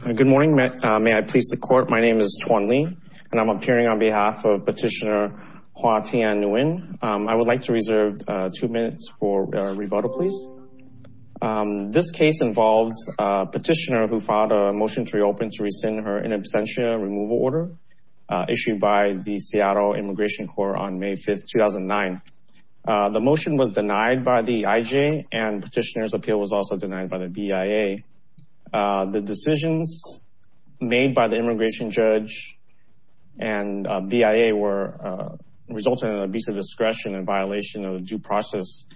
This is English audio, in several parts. Good morning, may I please the court. My name is Thuan Le and I'm appearing on behalf of petitioner Hoa Thien Nguyen. I would like to reserve two minutes for rebuttal please. This case involves a petitioner who filed a motion to reopen to rescind her in absentia removal order issued by the Seattle Immigration Corps on May 5th 2009. The motion was denied by the IJ and petitioner's appeal was also denied by the BIA. The decisions made by the immigration judge and BIA were resulting in an abuse of discretion and violation of the due process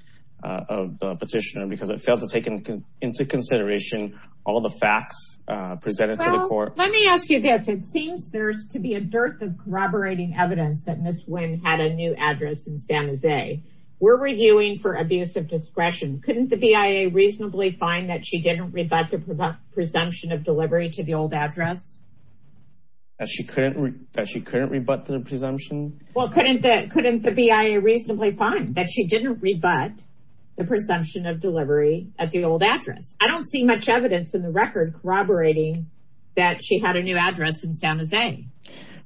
of the petitioner because it failed to take into consideration all the facts presented to the court. Let me ask you this, it seems there's to be a dearth of corroborating evidence that Ms. Nguyen had a new address in San Jose. We're reviewing for abuse of discretion. Couldn't the BIA reasonably find that she didn't rebut the presumption of delivery to the old address? That she couldn't rebut the presumption? Well couldn't the BIA reasonably find that she didn't rebut the presumption of delivery at the old address? I don't see much evidence in the record corroborating that she had a new address in San Jose.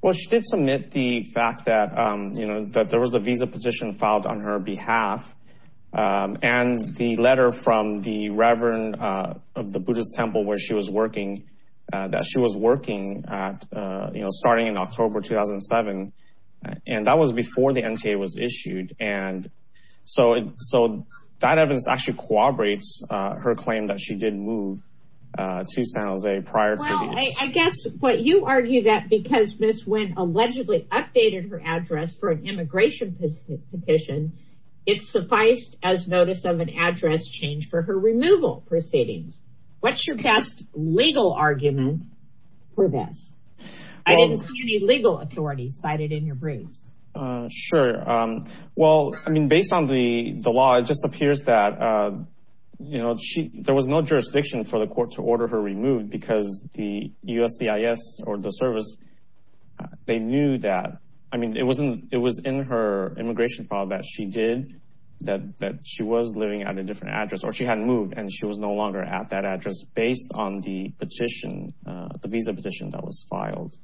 Well she did submit the fact that you know that there was a new address in her behalf and the letter from the Reverend of the Buddhist Temple where she was working that she was working at you know starting in October 2007 and that was before the NTA was issued and so so that evidence actually corroborates her claim that she did move to San Jose prior. I guess what you argue that because Ms. Nguyen allegedly updated her address for an immigration petition it's sufficed as notice of an address change for her removal proceedings. What's your best legal argument for this? I didn't see any legal authority cited in your briefs. Sure well I mean based on the the law it just appears that you know she there was no jurisdiction for the court to order her removed because the USCIS or the service they knew that I mean it wasn't it was in her immigration file that she did that that she was living at a different address or she hadn't moved and she was no longer at that address based on the petition the visa petition that was filed.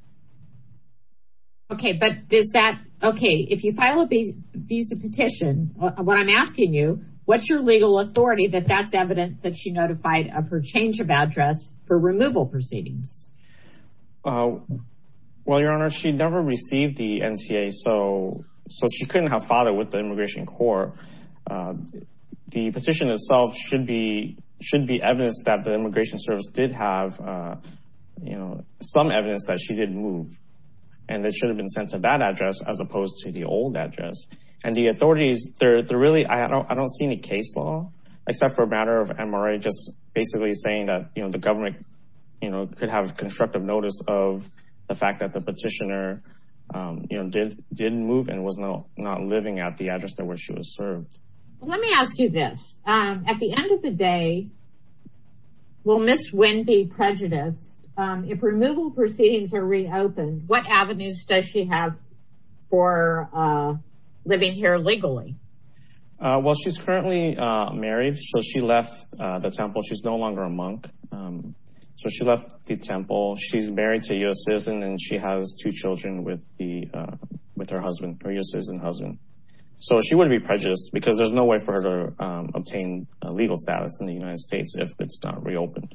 Okay but does that okay if you file a visa petition what I'm asking you what's your legal authority that that's evidence that she notified of her change of address for removal proceedings? Well your honor she never received the NTA so so she couldn't have filed it with the Immigration Court. The petition itself should be should be evidence that the Immigration Service did have you know some evidence that she didn't move and it should have been sent to that address as opposed to the old address and the authorities they're really I don't see any case law except for a matter of MRI just basically saying that you know the government you know could have constructive notice of the fact that the petitioner you know did didn't move and was no not living at the address that where she was served. Let me ask you this at the end of the day will Ms. Wynn be prejudiced if removal proceedings are reopened what avenues does she have for living here legally? Well she's currently married so she left the temple she's no longer a monk so she left the temple she's married to a US citizen and she has two children with the with her husband her US citizen husband so she wouldn't be prejudiced because there's no way for her to obtain legal status in the United States if it's not reopened.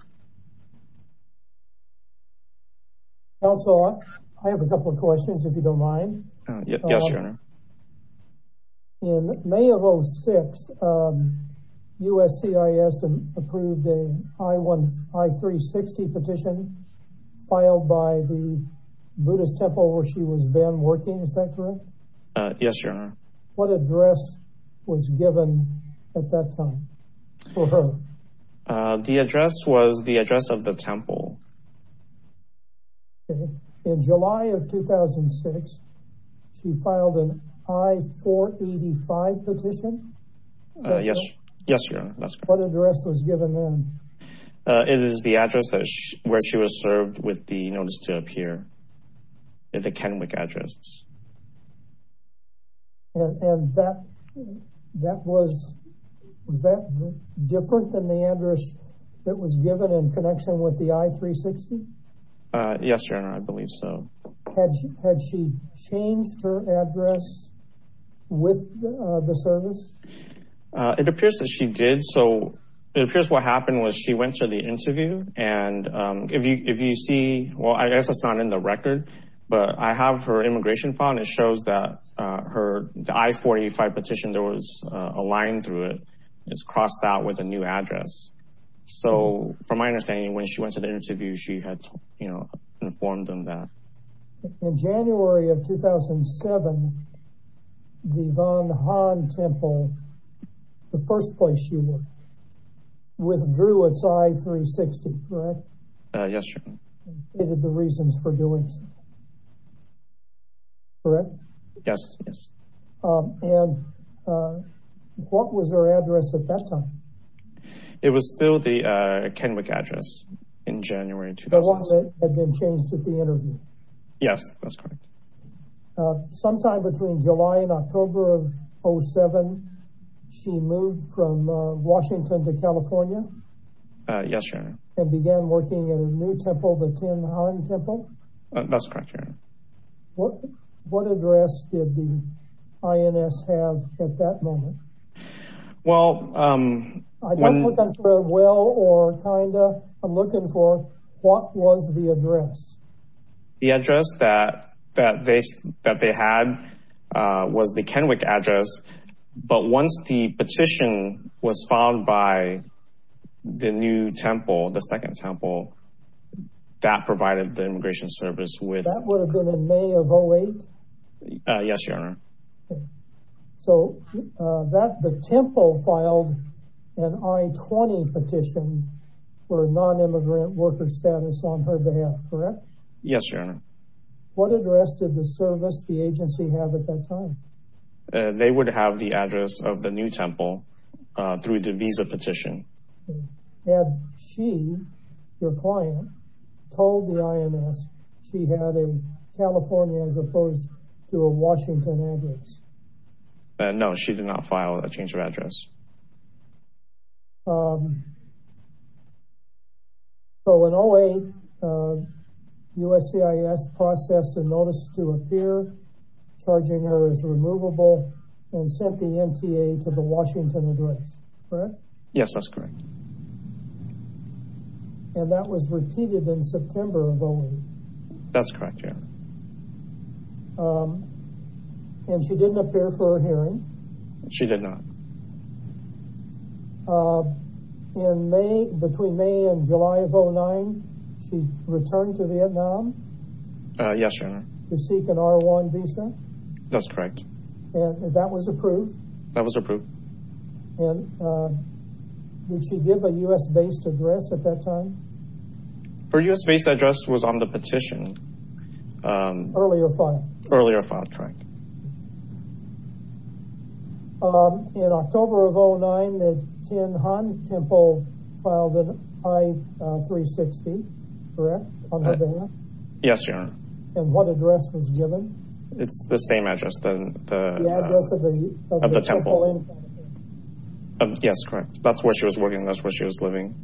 Counselor I have a couple of questions if you don't mind. Yes your honor. In May of 06 USCIS approved a I-360 petition filed by the Buddhist temple where she was then working is that correct? Yes your honor. What address was given at that time? The address was the address of the temple. In July of 2006 she filed an I-485 petition? Yes yes your honor. What address was given then? It is the address where she was served with the notice to appear at the Kenwick address. And that that was was that different than the address that was given in connection with the I-360? Yes your honor I believe so. Had she changed her address with the service? It appears that she did so it appears what happened was she went to the interview and if you if you see well I guess it's not in the record but I have her immigration file it shows that her I-485 petition there was a line through it it's crossed out with a new address so from my understanding when she went to the interview she had you know informed them that. In January of 2007 the Van Han temple the first place she worked withdrew its I-360 correct? Yes your honor. Gave the reasons for doing so correct? Yes yes. And what was her address at that time? It was still the Kenwick address in January 2007. The one that had been changed at the interview? Yes that's correct. Sometime between July and October of 07 she moved from Washington to California? Yes your honor. And began working in a new temple the Tin Han temple? That's correct your honor. What what address did the INS have at that moment? Well I'm looking for what was the address? The address that that they that had was the Kenwick address but once the petition was filed by the new temple the second temple that provided the immigration service with. That would have been in May of 08? Yes your honor. So that the temple filed an I-20 petition for a non-immigrant worker status on her They would have the address of the new temple through the visa petition. Had she, your client, told the INS she had a California as opposed to a Washington address? No she did not file a change of charging her as removable and sent the MTA to the Washington address, correct? Yes that's correct. And that was repeated in September of 08? That's correct your honor. And she didn't appear for her hearing? She did not. In May, between May and July of 09 she returned to Vietnam? Yes your honor. To seek an R1 visa? That's correct. And that was approved? That was approved. And did she give a US-based address at that time? Her US-based address was on the petition. Earlier file? Earlier file, correct. In October of 09 the Tin Han temple filed an I-360, correct, on her behalf? Yes your honor. And what address was given? It's the same address. The address of the temple? Yes, correct. That's where she was working, that's where she was living.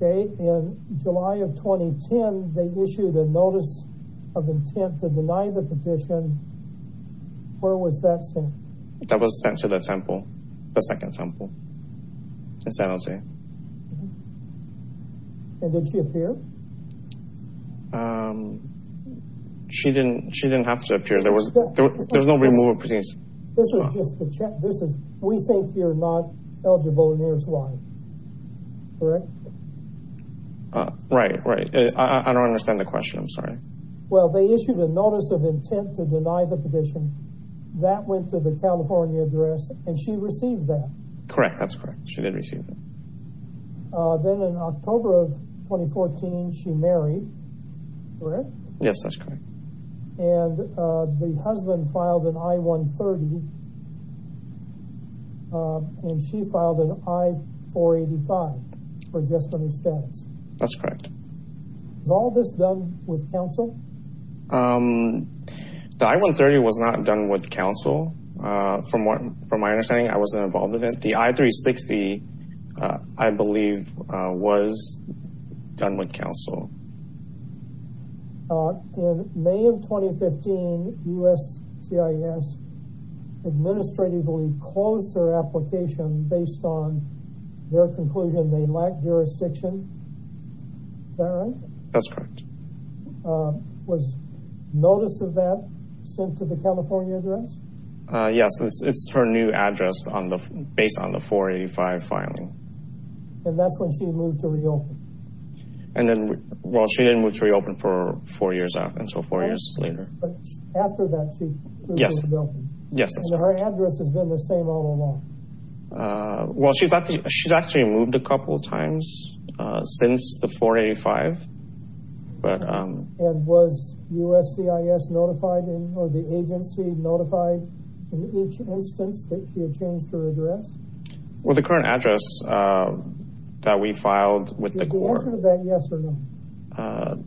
In July of 2010 they issued a notice of intent to deny the petition. Where was that sent? That was sent to the temple, the second temple in San Jose. And did she appear? She didn't, she didn't have to appear. There was, there's no removal petition. This is just a check, this is, we think you're not eligible and here's why, correct? Right, right. I don't understand the question, I'm sorry. Well they issued a notice of intent to deny the petition. That went to the California address and she received that? Correct, that's correct. She did receive it. Then in October of 2014 she married, correct? Yes, that's correct. And the husband filed an I-130 and she filed an I-485 for gestative status? That's correct. Was all this done with counsel? The I-130 was not done with counsel. From what, from my understanding I wasn't involved in it. The I-360 I believe was done with counsel. In May of 2015 USCIS administratively closed their application based on their conclusion they lacked jurisdiction. Is that right? That's correct. Was notice of that sent to the California address? Yes, it's her new address based on the 485 filing. And that's when she moved to reopen? And then, well she didn't move to reopen for four years out, until four years later. But after that she moved to reopen? Yes, that's correct. And her address has been the same all along? Well, she's actually moved a couple of times since the 485. And was USCIS notified or the agency notified in each instance that she had changed her address? Well, the current address that we filed with the Corps. Is the answer to that yes or no?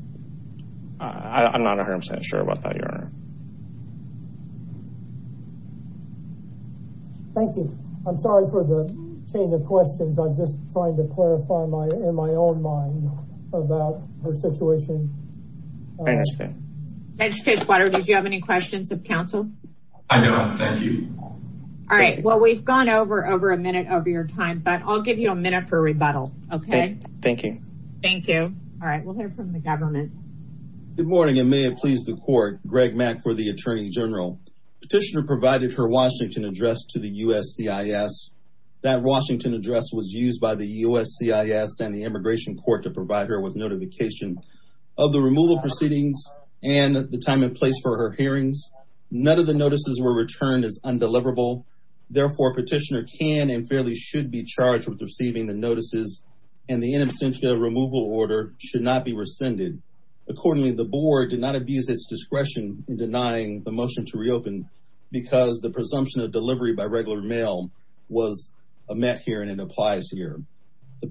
I'm not 100% sure about that, Your Honor. Thank you. I'm sorry for the chain of questions. I was just trying to clarify in my own mind about her situation. Thank you. Did you have any questions of counsel? I don't. Thank you. All right. Well, we've gone over a minute of your time, but I'll give you a minute for rebuttal. Okay. Thank you. Thank you. All right. We'll hear from the government. Good morning and may it please the court. Greg Mack for the Attorney General. Petitioner provided her Washington address to the USCIS. That Washington address was used by the USCIS and the immigration court to provide her with notification of the removal proceedings and the time and place for her hearings. None of the notices were returned as undeliverable. Therefore, petitioner can and fairly should be charged with receiving the notices and the in absentia removal order should not be rescinded. Accordingly, the board did not abuse its discretion in denying the motion to reopen because the presumption of delivery by regular mail was met here and it applies here.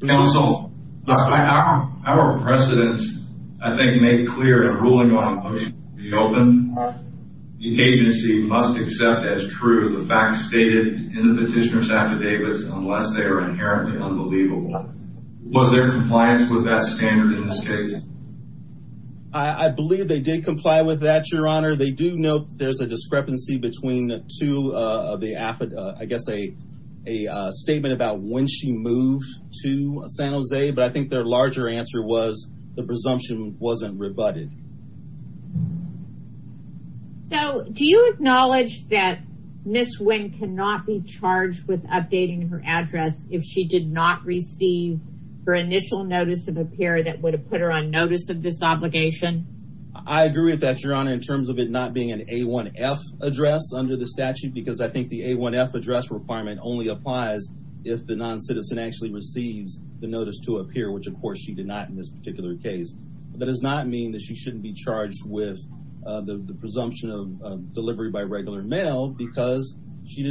Counsel, our precedents, I think, made clear in ruling on the motion to reopen. The agency must accept as true the facts stated in the petitioner's affidavits unless they are inherently unbelievable. Was there compliance with that standard in this case? I believe they did comply with that, Your Honor. They do know there's a discrepancy between two of the affidavits. I guess a statement about when she moved to San Jose, but I think their larger answer was the presumption wasn't rebutted. So, do you acknowledge that Ms. Nguyen cannot be charged with updating her address if she did not receive her initial notice of appear that would have put her on notice of this obligation? I agree with that, Your Honor, in terms of it not being an A1F address under the statute because I think the A1F address requirement only applies if the non-citizen actually receives the notice to appear, which of course she did not in this particular case. That does not mean that she shouldn't be charged with the presumption of delivery by regular mail because she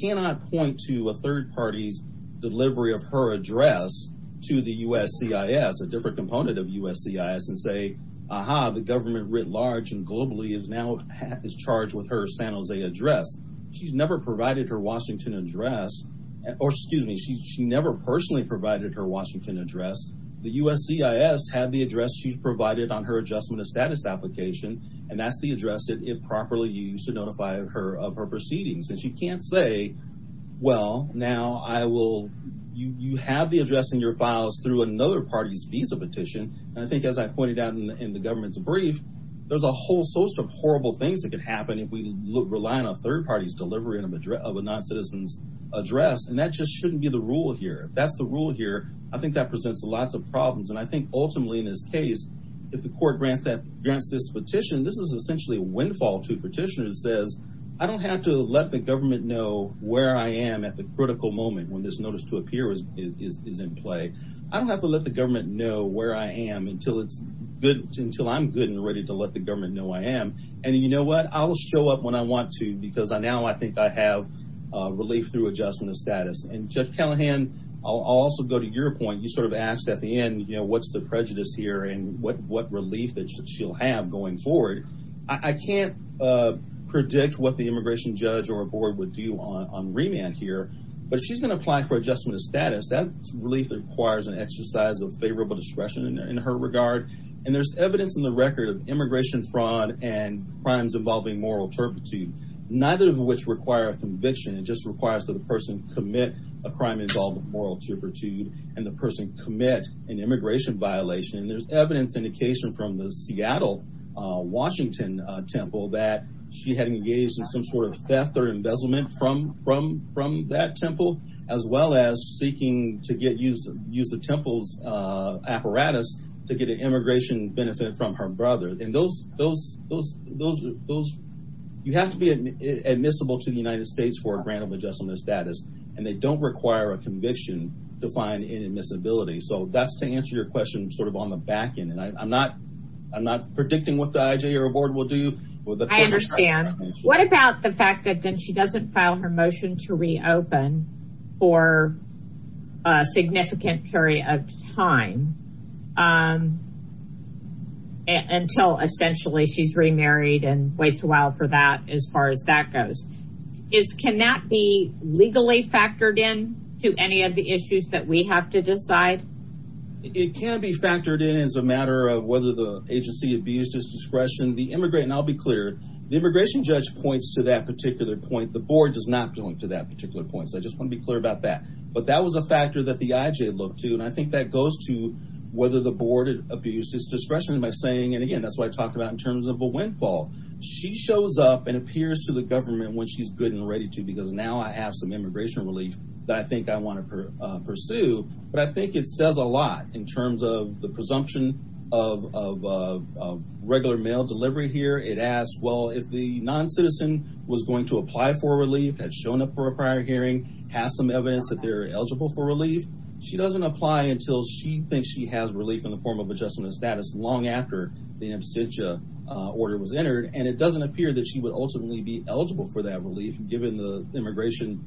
cannot point to a third party's delivery of her address to the USCIS, a different component of USCIS, and say, aha, the government writ large and globally is now charged with her San Jose address. She's never provided her Washington address, or excuse me, she never personally provided her Washington address. The USCIS had the address she's provided on her adjustment of status application, and that's the address that if properly used to notify her of her proceedings. And she can't say, well, now I will, you have the address in your files through another party's visa petition, and I think as I pointed out in the government's brief, there's a whole host of horrible things that could happen if we rely on a third party's delivery of a non-citizen's address, and that just shouldn't be the rule here. That's the rule here. I think that presents lots of problems, and I think ultimately in this case, if the court grants this petition, this is essentially a windfall to petitioners. It says, I don't have to let the government know where I am at the critical moment when this notice to appear is in play. I don't have to let the government know where I am until I'm good and ready to let the government know I am. And you know what? I'll show up when I want to because now I think I have relief through adjustment of status. And, Judge Callahan, I'll also go to your point. You sort of asked at the end, you know, what's the prejudice here and what relief that she'll have going forward. I can't predict what the immigration judge or board would do on remand here, but if she's going to apply for adjustment of status, that relief requires an exercise of favorable discretion in her regard. And there's evidence in the record of immigration fraud and crimes involving moral turpitude, neither of which require a conviction. It just requires that the person commit a crime involved with moral turpitude and the person commit an immigration violation. And there's evidence indication from the Seattle, Washington temple that she had engaged in some sort of theft or embezzlement from that temple, as well as seeking to use the temple's apparatus to get an immigration benefit from her brother. And you have to be admissible to the United States for a grant of adjustment of status, and they don't require a conviction to find inadmissibility. So that's to answer your question sort of on the back end. And I'm not predicting what the IJA or board will do. I understand. What about the fact that then she doesn't file her motion to reopen for a significant period of time until essentially she's remarried and waits a while for that as far as that goes? Can that be legally factored in to any of the issues that we have to decide? It can be factored in as a matter of whether the agency abused its discretion. And I'll be clear. The immigration judge points to that particular point. The board does not point to that particular point. So I just want to be clear about that. But that was a factor that the IJA looked to, and I think that goes to whether the board abused its discretion. And, again, that's what I talked about in terms of a windfall. She shows up and appears to the government when she's good and ready to because now I have some immigration relief that I think I want to pursue. But I think it says a lot in terms of the presumption of regular mail delivery here. It asks, well, if the noncitizen was going to apply for relief, had shown up for a prior hearing, has some evidence that they're eligible for relief. She doesn't apply until she thinks she has relief in the form of adjustment of status long after the absentia order was entered. And it doesn't appear that she would ultimately be eligible for that relief given the immigration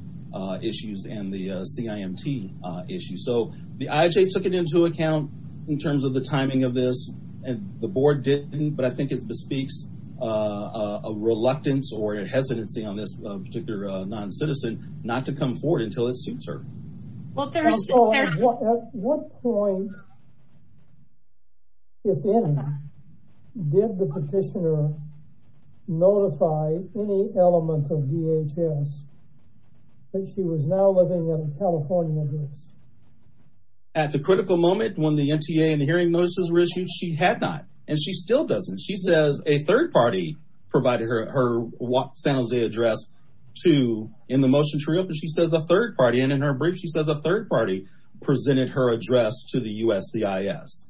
issues and the CIMT issue. So the IJA took it into account in terms of the timing of this, and the board didn't. But I think it bespeaks a reluctance or a hesitancy on this particular noncitizen not to come forward until it suits her. At what point, if any, did the petitioner notify any element of DHS that she was now living in a California address? At the critical moment when the NTA and the hearing notices were issued, she had not. And she still doesn't. She says a third party provided her San Jose address in the motion to reopen. She says a third party. And in her brief, she says a third party presented her address to the USCIS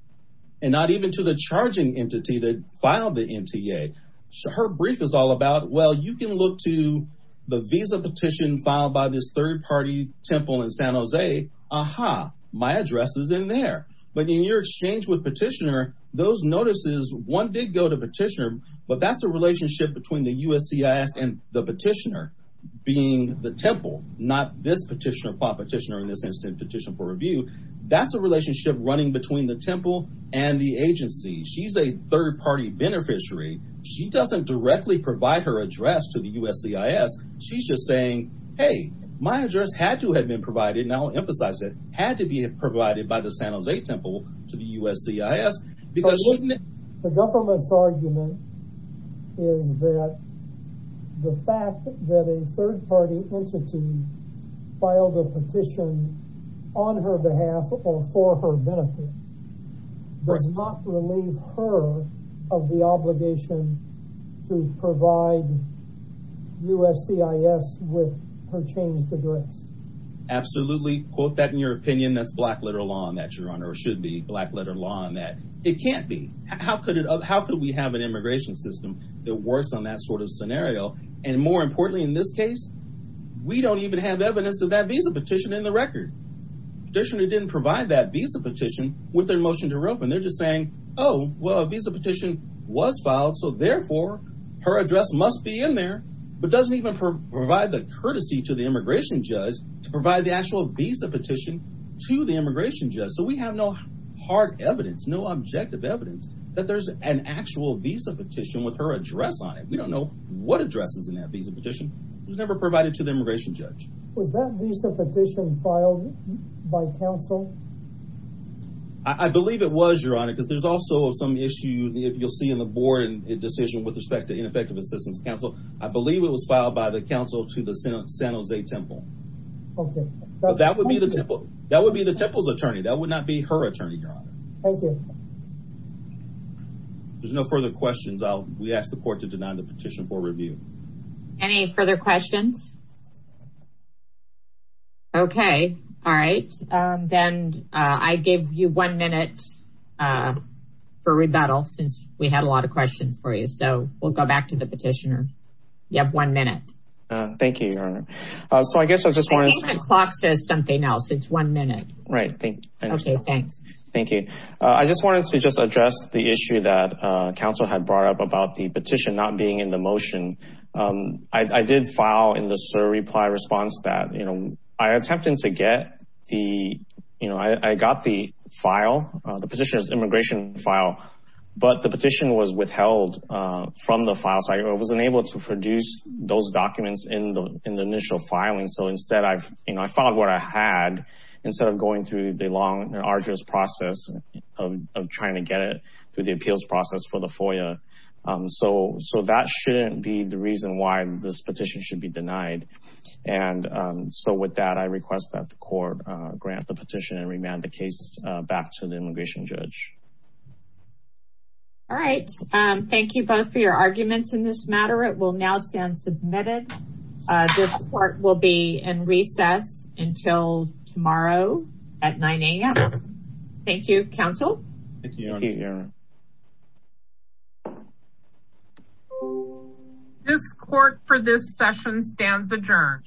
and not even to the charging entity that filed the NTA. So her brief is all about, well, you can look to the visa petition filed by this third party temple in San Jose. Aha, my address is in there. But in your exchange with petitioner, those notices, one did go to petitioner. But that's a relationship between the USCIS and the petitioner being the temple, not this petitioner, filed petitioner in this instance, petition for review. That's a relationship running between the temple and the agency. She's a third party beneficiary. She doesn't directly provide her address to the USCIS. She's just saying, hey, my address had to have been provided. And I'll emphasize that. Had to be provided by the San Jose temple to the USCIS. The government's argument is that the fact that a third party entity filed a petition on her behalf or for her benefit does not relieve her of the obligation to provide USCIS with her changed address. Absolutely. Can we quote that in your opinion? That's black letter law on that, Your Honor, or should be black letter law on that. It can't be. How could it? How could we have an immigration system that works on that sort of scenario? And more importantly, in this case, we don't even have evidence of that visa petition in the record. Petitioner didn't provide that visa petition with their motion to reopen. They're just saying, oh, well, a visa petition was filed. So, therefore, her address must be in there, but doesn't even provide the courtesy to the immigration judge to provide the actual visa petition to the immigration judge. So we have no hard evidence, no objective evidence that there's an actual visa petition with her address on it. We don't know what addresses in that visa petition was never provided to the immigration judge. Was that visa petition filed by counsel? I believe it was, Your Honor, because there's also some issue you'll see in the board decision with respect to ineffective assistance counsel. I believe it was filed by the counsel to the San Jose Temple. OK. That would be the Temple's attorney. That would not be her attorney, Your Honor. Thank you. There's no further questions. We ask the court to deny the petition for review. Any further questions? OK. All right. Then I gave you one minute for rebuttal since we had a lot of questions for you. So we'll go back to the petitioner. You have one minute. Thank you, Your Honor. So I guess I just wanted to— I think the clock says something else. It's one minute. Right. OK, thanks. Thank you. I just wanted to just address the issue that counsel had brought up about the petition not being in the motion. I did file in the SIR reply response that I attempted to get the—I got the file, the petitioner's immigration file, but the petition was withheld from the file. So I was unable to produce those documents in the initial filing. So instead, I filed what I had instead of going through the long and arduous process of trying to get it through the appeals process for the FOIA. So that shouldn't be the reason why this petition should be denied. And so with that, I request that the court grant the petition and remand the case back to the immigration judge. All right. Thank you both for your arguments in this matter. It will now stand submitted. This court will be in recess until tomorrow at 9 a.m. Thank you, counsel. Thank you, Your Honor. This court for this session stands adjourned.